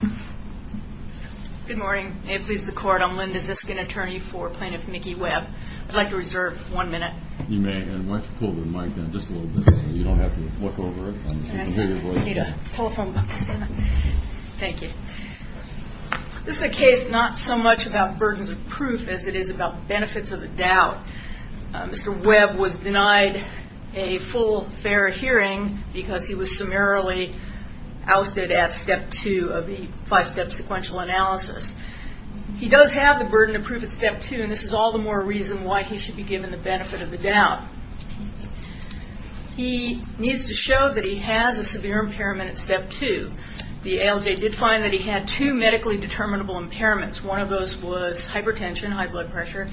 Good morning. May it please the Court, I'm Linda Ziskin, attorney for Plaintiff Mickey Webb. I'd like to reserve one minute. You may, and why don't you pull the mic down just a little bit so you don't have to look over it. I hate a telephone booth. Thank you. This is a case not so much about burdens of proof as it is about benefits of the doubt. Mr. Webb was denied a full fair hearing because he was summarily ousted at step two of the five-step sequential analysis. He does have the burden of proof at step two, and this is all the more reason why he should be given the benefit of the doubt. He needs to show that he has a severe impairment at step two. The ALJ did find that he had two medically determinable impairments. One of those was hypertension, high blood pressure.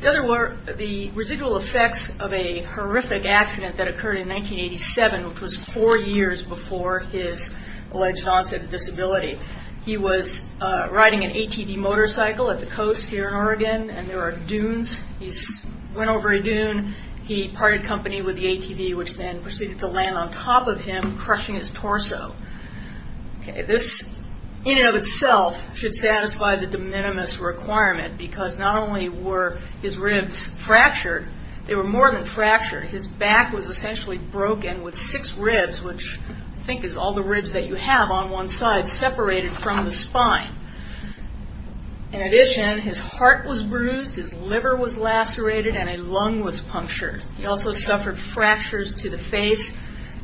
The other were the residual effects of a horrific accident that occurred in 1987, which was four years before his alleged onset of disability. He was riding an ATV motorcycle at the coast here in Oregon, and there are dunes. He went over a dune. He parted company with the ATV, which then proceeded to land on top of him, crushing his torso. This in and of itself should satisfy the de minimis requirement because not only were his ribs fractured, they were more than fractured. His back was essentially broken with six ribs, which I think is all the ribs that you have on one side, separated from the spine. In addition, his heart was bruised, his liver was lacerated, and a lung was punctured. He also suffered fractures to the face,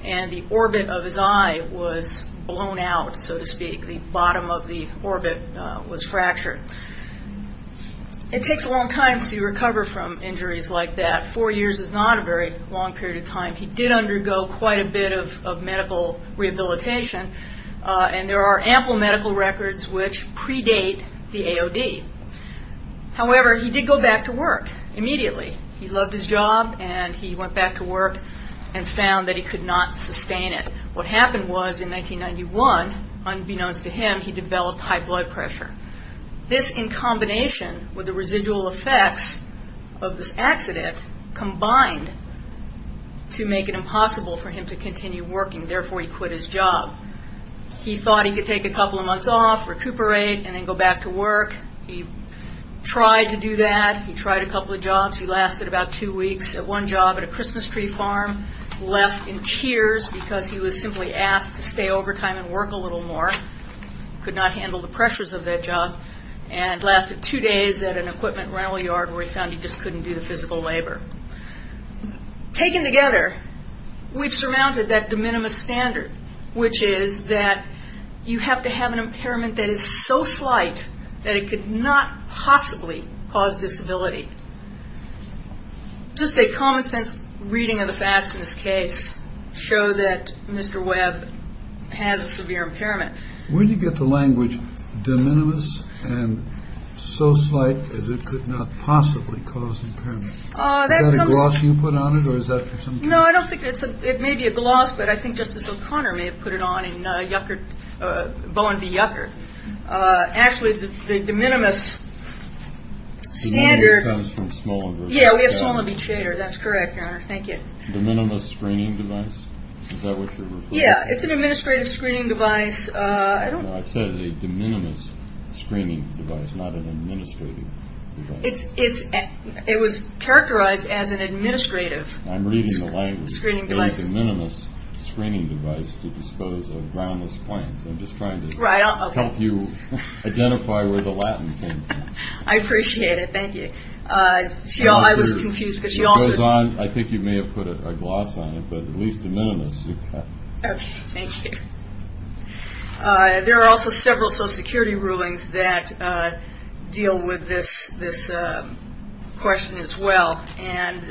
and the orbit of his eye was blown out, so to speak. The bottom of the orbit was fractured. It takes a long time to recover from injuries like that. Four years is not a very long period of time. He did undergo quite a bit of medical rehabilitation, and there are ample medical records which predate the AOD. However, he did go back to work immediately. He loved his job, and he went back to work and found that he could not sustain it. What happened was in 1991, unbeknownst to him, he developed high blood pressure. This in combination with the residual effects of this accident combined to make it impossible for him to continue working. Therefore, he quit his job. He thought he could take a couple of months off, recuperate, and then go back to work. He tried to do that. He tried a couple of jobs. He lasted about two weeks at one job at a Christmas tree farm, left in tears because he was simply asked to stay overtime and work a little more, could not handle the pressures of that job, and lasted two days at an equipment rental yard where he found he just couldn't do the physical labor. Taken together, we've surmounted that de minimis standard, which is that you have to have an impairment that is so slight that it could not possibly cause disability. Just a common sense reading of the facts in this case show that Mr. Webb has a severe impairment. Where do you get the language de minimis and so slight as it could not possibly cause impairment? Is that a gloss you put on it, or is that for some reason? No, I don't think it's a – it may be a gloss, but I think Justice O'Connor may have put it on in Bowen v. Yuckert. Actually, the de minimis standard – De minimis comes from Smolin v. Chater. Yeah, we have Smolin v. Chater. That's correct, Your Honor. Thank you. De minimis screening device? Is that what you're referring to? Yeah, it's an administrative screening device. I don't – No, I said a de minimis screening device, not an administrative device. It was characterized as an administrative – I'm reading the language. Screening device. De minimis screening device to dispose of groundless claims. I'm just trying to help you identify where the Latin came from. I appreciate it. Thank you. I was confused because she also – I think you may have put a gloss on it, but at least de minimis. Okay. Thank you. There are also several Social Security rulings that deal with this question as well. And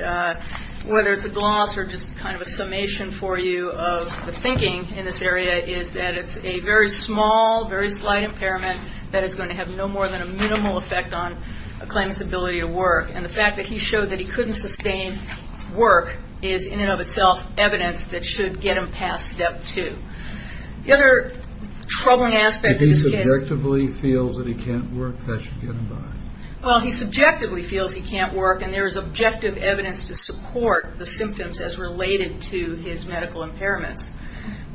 whether it's a gloss or just kind of a summation for you of the thinking in this area is that it's a very small, very slight impairment that is going to have no more than a minimal effect on a claimant's ability to work. And the fact that he showed that he couldn't sustain work is, in and of itself, evidence that should get him past Step 2. The other troubling aspect of this case – If he subjectively feels that he can't work, that should get him by. Well, he subjectively feels he can't work, and there is objective evidence to support the symptoms as related to his medical impairments,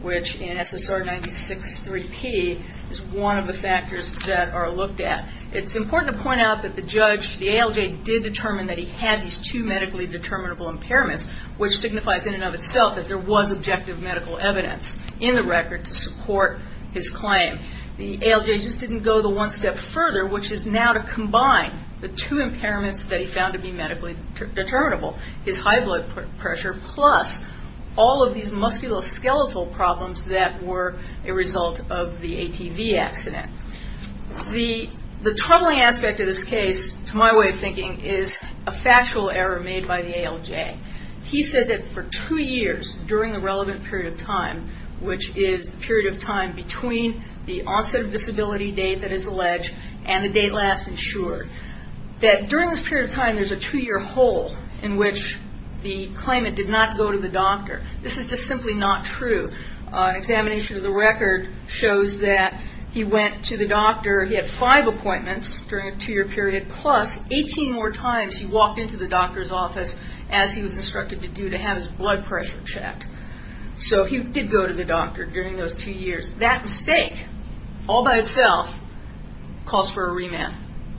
which in SSR 96-3P is one of the factors that are looked at. It's important to point out that the judge, the ALJ, did determine that he had these two medically determinable impairments, which signifies in and of itself that there was objective medical evidence in the record to support his claim. The ALJ just didn't go the one step further, which is now to combine the two impairments that he found to be medically determinable, his high blood pressure plus all of these musculoskeletal problems that were a result of the ATV accident. The troubling aspect of this case, to my way of thinking, is a factual error made by the ALJ. He said that for two years during the relevant period of time, which is the period of time between the onset of disability date that is alleged and the date last insured, that during this period of time there's a two-year hole in which the claimant did not go to the doctor. This is just simply not true. An examination of the record shows that he went to the doctor, he had five appointments during a two-year period, plus 18 more times he walked into the doctor's office as he was instructed to do to have his blood pressure checked. So he did go to the doctor during those two years. That mistake, all by itself, calls for a remand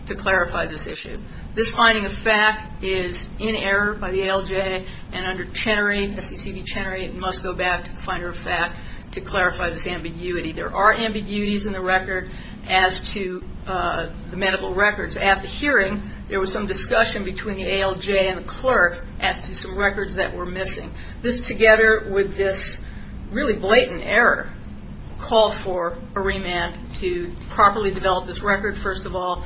to clarify this issue. This finding of fact is in error by the ALJ, and under CCB Chenery it must go back to finder of fact to clarify this ambiguity. There are ambiguities in the record as to the medical records. At the hearing there was some discussion between the ALJ and the clerk as to some records that were missing. This, together with this really blatant error, call for a remand to properly develop this record, first of all,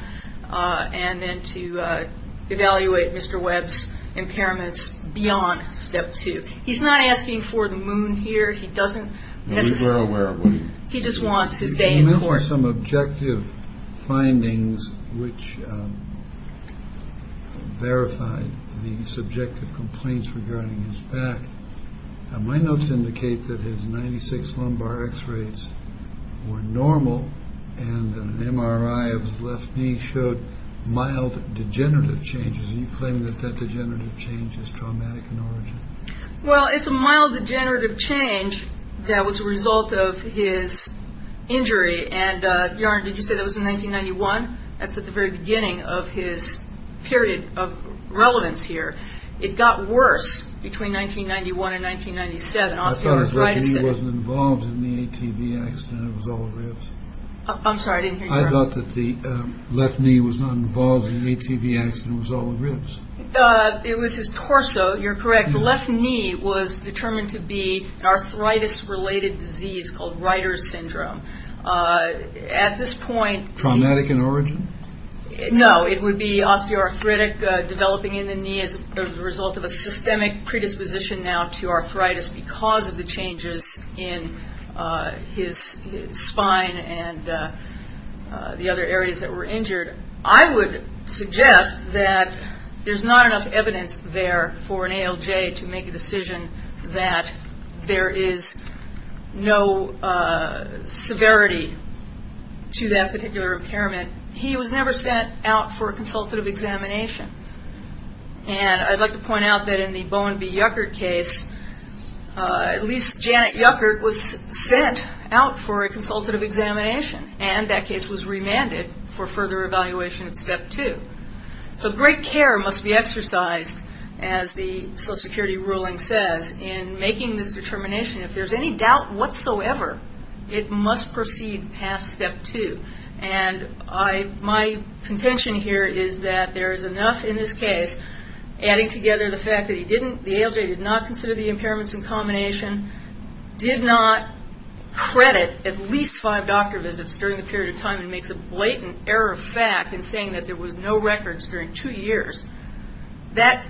and then to evaluate Mr. Webb's impairments beyond step two. He's not asking for the moon here. He doesn't necessarily. He just wants his date in court. There were some objective findings which verified the subjective complaints regarding his back. My notes indicate that his 96 lumbar X-rays were normal and an MRI of his left knee showed mild degenerative changes. Do you claim that that degenerative change is traumatic in origin? Well, it's a mild degenerative change that was a result of his injury. And, Your Honor, did you say that was in 1991? That's at the very beginning of his period of relevance here. It got worse between 1991 and 1997. I thought his left knee wasn't involved in the ATV accident. It was all the ribs. I'm sorry, I didn't hear you, Your Honor. I thought that the left knee was not involved in the ATV accident. It was all the ribs. It was his torso, you're correct. The left knee was determined to be an arthritis-related disease called Reiter's syndrome. At this point... Traumatic in origin? No, it would be osteoarthritic developing in the knee as a result of a systemic predisposition now to arthritis because of the changes in his spine and the other areas that were injured. I would suggest that there's not enough evidence there for an ALJ to make a decision that there is no severity to that particular impairment. He was never sent out for a consultative examination. And I'd like to point out that in the Bowen B. Yuckert case, at least Janet Yuckert was sent out for a consultative examination, and that case was remanded for further evaluation at Step 2. So great care must be exercised, as the Social Security ruling says, in making this determination. If there's any doubt whatsoever, it must proceed past Step 2. And my contention here is that there is enough in this case, adding together the fact that the ALJ did not consider the impairments in combination, did not credit at least five doctor visits during the period of time, and makes a blatant error of fact in saying that there was no records during two years, that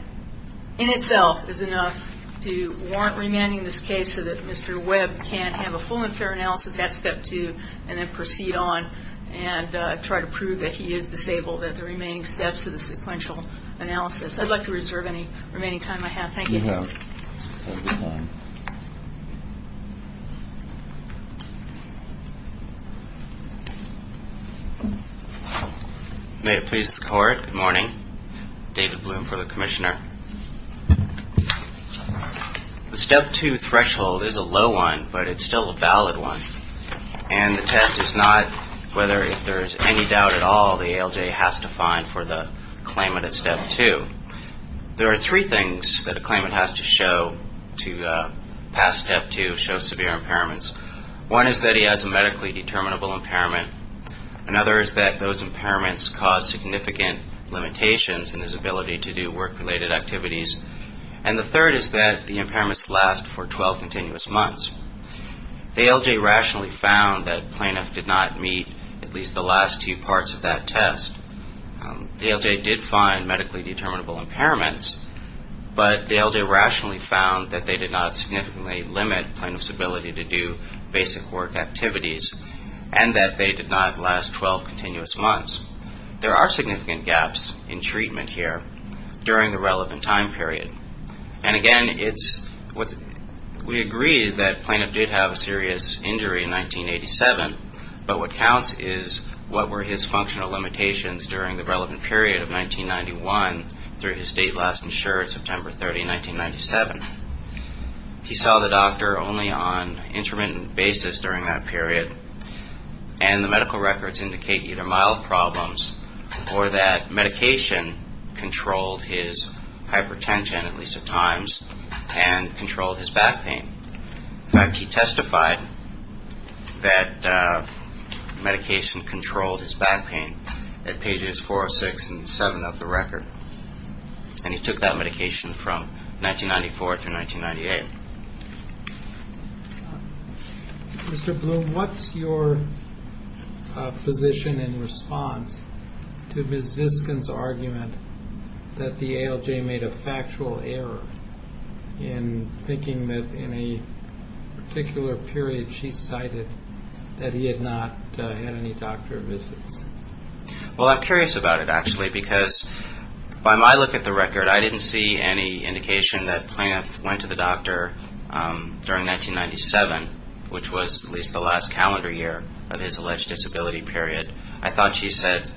in itself is enough to warrant remanding this case so that Mr. Webb can have a full and fair analysis at Step 2 and then proceed on and try to prove that he is disabled at the remaining steps of the sequential analysis. I'd like to reserve any remaining time I have. Thank you. May it please the Court. Good morning. David Bloom for the Commissioner. The Step 2 threshold is a low one, but it's still a valid one, and the test is not whether there is any doubt at all the ALJ has to find for the claimant at Step 2. There are three things that a claimant has to show to pass Step 2, show severe impairments. One is that he has a medically determinable impairment. Another is that those impairments cause significant limitations in his ability to do work-related activities. And the third is that the impairments last for 12 continuous months. The ALJ rationally found that plaintiff did not meet at least the last two parts of that test. The ALJ did find medically determinable impairments, but the ALJ rationally found that they did not significantly limit plaintiff's ability to do basic work activities and that they did not last 12 continuous months. There are significant gaps in treatment here during the relevant time period. And again, we agree that plaintiff did have a serious injury in 1987, but what counts is what were his functional limitations during the relevant period of 1991 through his date last insured, September 30, 1997. He saw the doctor only on intermittent basis during that period, and the medical records indicate either mild problems or that medication controlled his hypertension at least at times and controlled his back pain. In fact, he testified that medication controlled his back pain at pages 406 and 407 of the record, and he took that medication from 1994 through 1998. Mr. Bloom, what's your position in response to Ms. Ziskin's argument that the ALJ made a factual error in thinking that in a particular period she cited that he had not had any doctor visits? Well, I'm curious about it, actually, because by my look at the record, I didn't see any indication that plaintiff went to the doctor during 1997, which was at least the last calendar year of his alleged disability period. I thought she said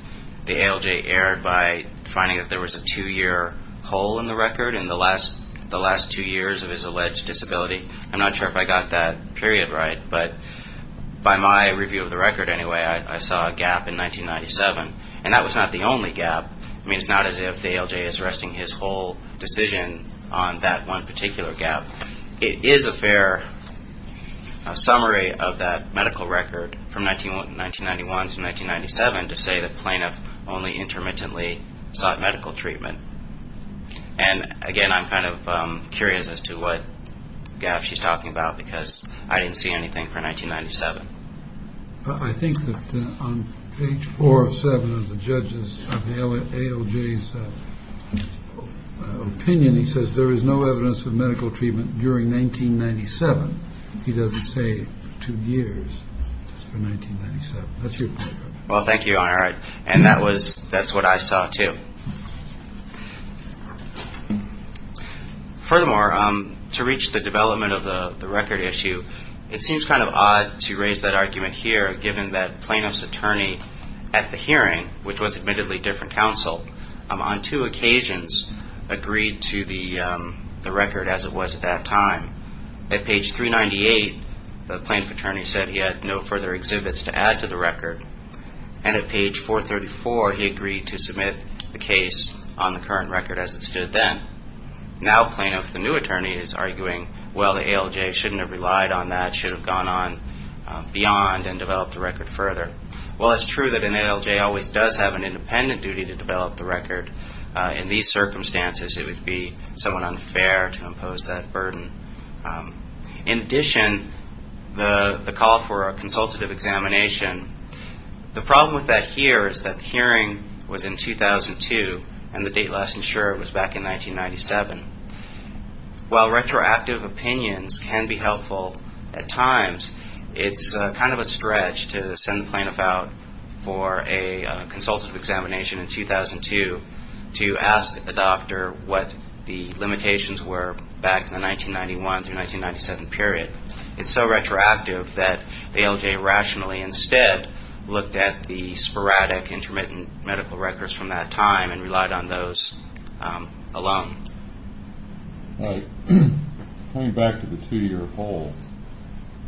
the ALJ erred by finding that there was a two-year hole in the record in the last two years of his alleged disability. I'm not sure if I got that period right, but by my review of the record anyway, I saw a gap in 1997, and that was not the only gap. I mean, it's not as if the ALJ is arresting his whole decision on that one particular gap. It is a fair summary of that medical record from 1991 to 1997 to say that plaintiff only intermittently sought medical treatment. And, again, I'm kind of curious as to what gap she's talking about because I didn't see anything for 1997. I think that on page 407 of the judges of the ALJ's opinion, he says there is no evidence of medical treatment during 1997. He doesn't say two years for 1997. That's your point. Well, thank you, Your Honor, and that's what I saw too. Furthermore, to reach the development of the record issue, it seems kind of odd to raise that argument here, given that plaintiff's attorney at the hearing, which was admittedly different counsel, on two occasions agreed to the record as it was at that time. At page 398, the plaintiff attorney said he had no further exhibits to add to the record. And at page 434, he agreed to submit the case on the current record as it stood then. Now plaintiff, the new attorney, is arguing, well, the ALJ shouldn't have relied on that. It should have gone on beyond and developed the record further. Well, it's true that an ALJ always does have an independent duty to develop the record. In these circumstances, it would be somewhat unfair to impose that burden. In addition, the call for a consultative examination, the problem with that here is that the hearing was in 2002, and the date last insured was back in 1997. It's kind of a stretch to send the plaintiff out for a consultative examination in 2002 to ask a doctor what the limitations were back in the 1991 through 1997 period. It's so retroactive that the ALJ rationally instead looked at the sporadic intermittent medical records from that time and relied on those alone. Coming back to the two-year hold,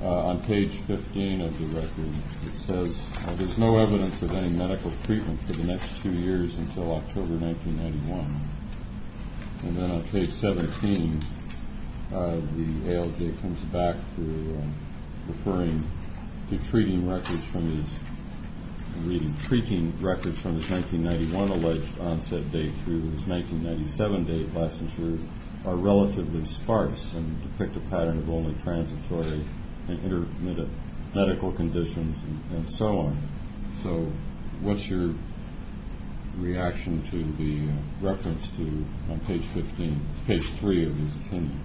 on page 15 of the record, it says there's no evidence of any medical treatment for the next two years until October 1991. And then on page 17, the ALJ comes back to referring to treating records from his 1991 alleged onset date through his 1997 date last insured are relatively sparse and depict a pattern of only transitory and intermittent medical conditions and so on. So what's your reaction to the reference to, on page 15, page 3 of his opinion?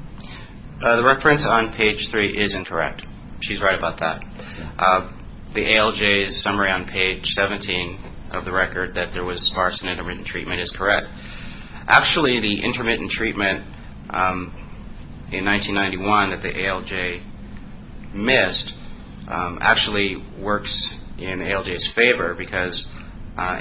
The reference on page 3 is incorrect. She's right about that. The ALJ's summary on page 17 of the record that there was sparse and intermittent treatment is correct. Actually, the intermittent treatment in 1991 that the ALJ missed actually works in the ALJ's favor because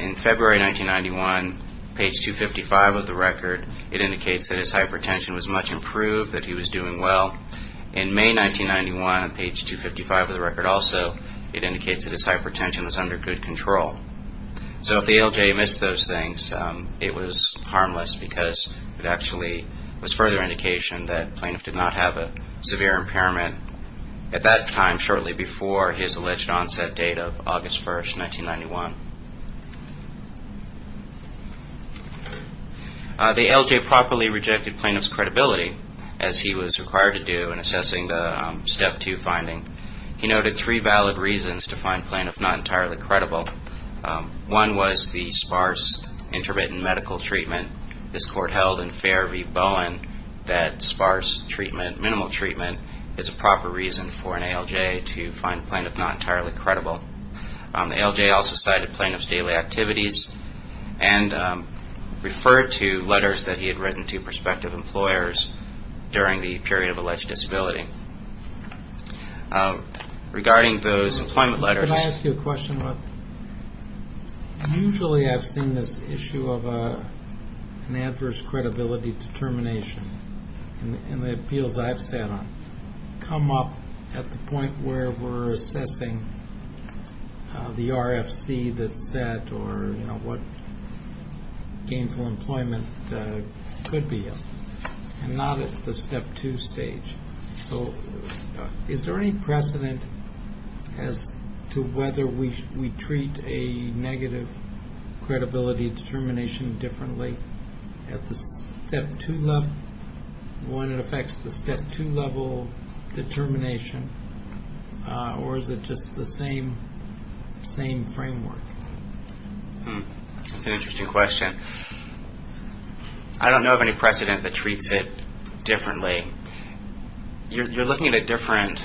in February 1991, page 255 of the record, it indicates that his hypertension was much improved, that he was doing well. In May 1991, on page 255 of the record also, it indicates that his hypertension was under good control. So if the ALJ missed those things, it was harmless because it actually was further indication that the plaintiff did not have a severe impairment at that time, shortly before his alleged onset date of August 1, 1991. The ALJ properly rejected plaintiff's credibility as he was required to do in assessing the Step 2 finding. He noted three valid reasons to find plaintiff not entirely credible. One was the sparse intermittent medical treatment. This court held in Fair v. Bowen that sparse treatment, minimal treatment, is a proper reason for an ALJ to find plaintiff not entirely credible. The ALJ also cited plaintiff's daily activities and referred to letters that he had written to prospective employers during the period of alleged disability. Regarding those employment letters... Can I ask you a question? Usually I've seen this issue of an adverse credibility determination in the appeals I've sat on come up at the point where we're assessing the RFC that's set or what gainful employment could be, and not at the Step 2 stage. So is there any precedent as to whether we treat a negative credibility determination differently at the Step 2 level, when it affects the Step 2 level determination, or is it just the same framework? That's an interesting question. I don't know of any precedent that treats it differently. You're looking at a different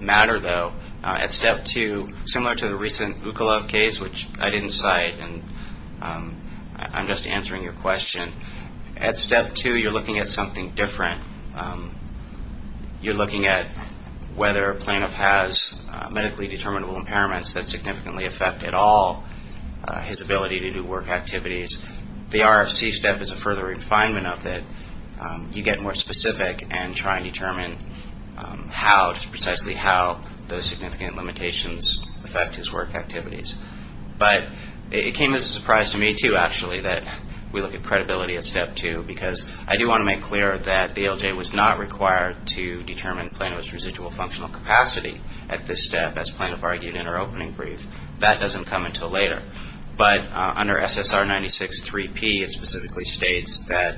matter, though, at Step 2, similar to the recent Ukolov case, which I didn't cite, and I'm just answering your question. At Step 2, you're looking at something different. You're looking at whether a plaintiff has medically determinable impairments that significantly affect at all his ability to do work activities. The RFC step is a further refinement of it. You get more specific and try and determine how, and that's precisely how those significant limitations affect his work activities. But it came as a surprise to me, too, actually, that we look at credibility at Step 2, because I do want to make clear that the ALJ was not required to determine plaintiff's residual functional capacity at this step, as plaintiff argued in her opening brief. That doesn't come until later. But under SSR 96-3P, it specifically states that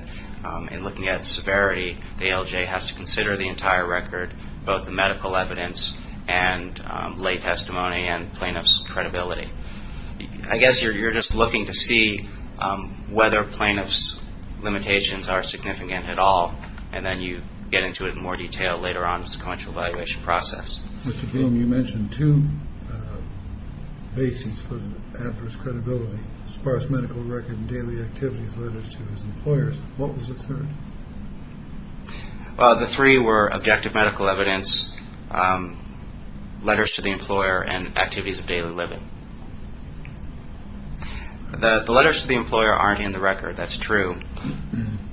in looking at severity, the ALJ has to consider the entire record, both the medical evidence and lay testimony and plaintiff's credibility. I guess you're just looking to see whether plaintiff's limitations are significant at all, and then you get into it in more detail later on in the sequential evaluation process. Mr. Bloom, you mentioned two bases for the actor's credibility. As far as medical record and daily activities related to his employers, what was the third? The three were objective medical evidence, letters to the employer, and activities of daily living. The letters to the employer aren't in the record. That's true.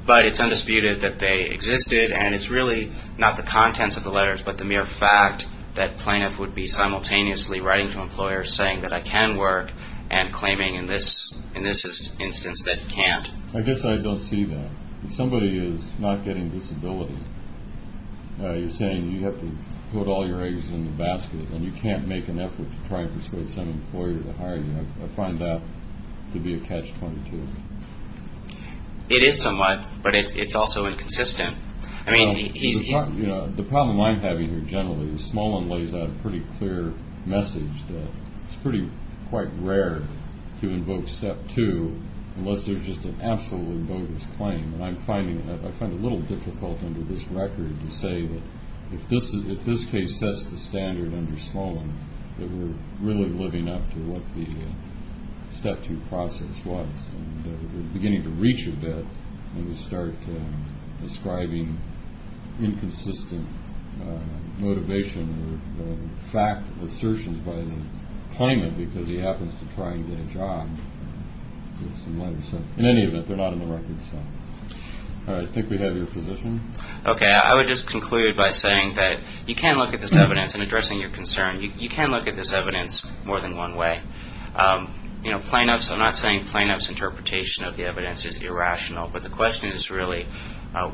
But it's undisputed that they existed, and it's really not the contents of the letters, but the mere fact that plaintiff would be simultaneously writing to employers saying that I can work and claiming in this instance that he can't. I guess I don't see that. If somebody is not getting disability, you're saying you have to put all your eggs in the basket and you can't make an effort to try and persuade some employer to hire you. I find that to be a catch-22. It is somewhat, but it's also inconsistent. The problem I'm having here generally is Smolin lays out a pretty clear message that it's pretty quite rare to invoke Step 2 unless there's just an absolutely bogus claim, and I find it a little difficult under this record to say that if this case sets the standard under Smolin that we're really living up to what the Step 2 process was. We're beginning to reach a bit, and we start ascribing inconsistent motivation or fact assertions by the claimant because he happens to try and get a job. In any event, they're not in the record. I think we have your position. I would just conclude by saying that you can look at this evidence, and addressing your concern, you can look at this evidence more than one way. I'm not saying plaintiff's interpretation of the evidence is irrational, but the question is really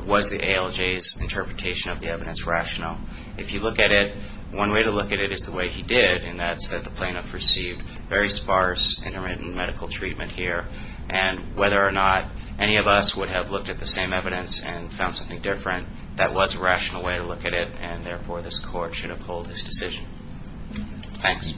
was the ALJ's interpretation of the evidence rational? If you look at it, one way to look at it is the way he did, and that's that the plaintiff received very sparse intermittent medical treatment here, and whether or not any of us would have looked at the same evidence and found something different, that was a rational way to look at it, and therefore this Court should uphold his decision. Thanks.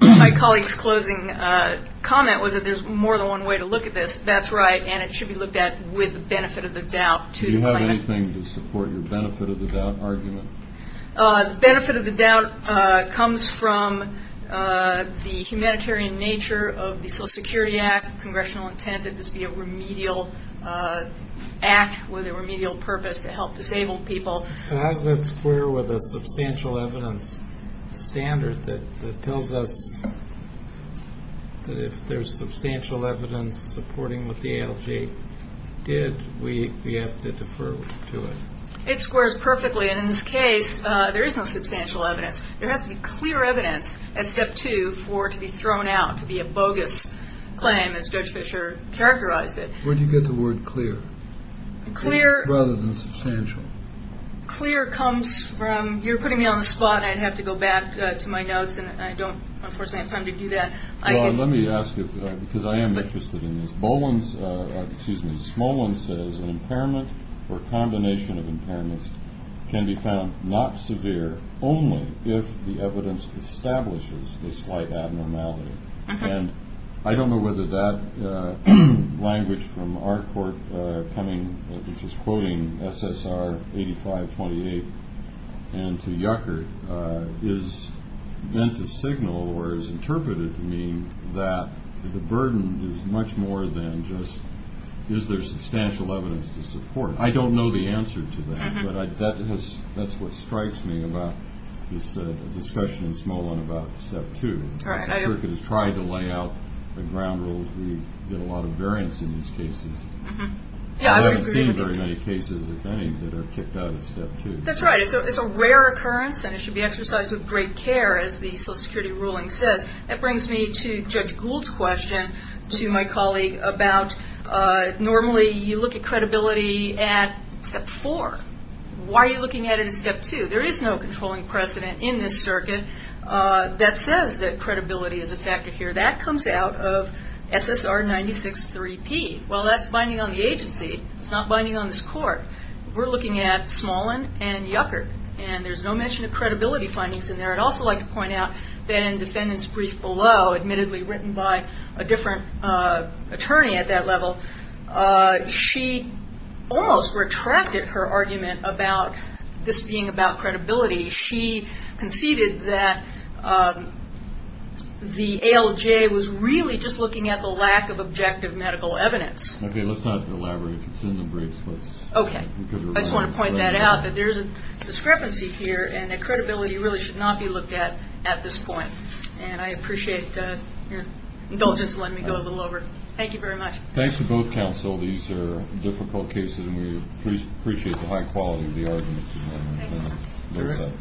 My colleague's closing comment was that there's more than one way to look at this. That's right, and it should be looked at with the benefit of the doubt to the plaintiff. Do you have anything to support your benefit of the doubt argument? The benefit of the doubt comes from the humanitarian nature of the Social Security Act, congressional intent that this be a remedial act with a remedial purpose to help disabled people. How does that square with a substantial evidence standard that tells us that if there's substantial evidence supporting what the ALJ did, we have to defer to it? It squares perfectly, and in this case, there is no substantial evidence. There has to be clear evidence as step two for it to be thrown out, to be a bogus claim, as Judge Fischer characterized it. Where do you get the word clear rather than substantial? Clear comes from you're putting me on the spot, and I'd have to go back to my notes, and I don't, unfortunately, have time to do that. Well, let me ask you, because I am interested in this. Smolin says an impairment or combination of impairments can be found not severe only if the evidence establishes the slight abnormality. And I don't know whether that language from our court coming, which is quoting SSR 8528 and to Yucker, is meant to signal or is interpreted to mean that the burden is much more than just is there substantial evidence to support? I don't know the answer to that, but that's what strikes me about this discussion in Smolin about step two. Yucker has tried to lay out the ground rules. We get a lot of variance in these cases. I haven't seen very many cases, if any, that are kicked out of step two. That's right. It's a rare occurrence, and it should be exercised with great care, as the Social Security ruling says. That brings me to Judge Gould's question to my colleague about normally you look at credibility at step four. Why are you looking at it at step two? There is no controlling precedent in this circuit that says that credibility is a factor here. That comes out of SSR 963P. Well, that's binding on the agency. It's not binding on this court. We're looking at Smolin and Yucker, and there's no mention of credibility findings in there. I'd also like to point out that in defendant's brief below, admittedly written by a different attorney at that level, she almost retracted her argument about this being about credibility. She conceded that the ALJ was really just looking at the lack of objective medical evidence. Okay. Let's not elaborate. It's in the briefs. Okay. I just want to point that out that there is a discrepancy here, and that credibility really should not be looked at at this point. And I appreciate your indulgence in letting me go a little over. Thank you very much. Thanks to both counsel. These are difficult cases, and we appreciate the high quality of the argument. Thank you.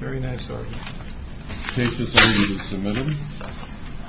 Very nice argument. Cases are either submitted.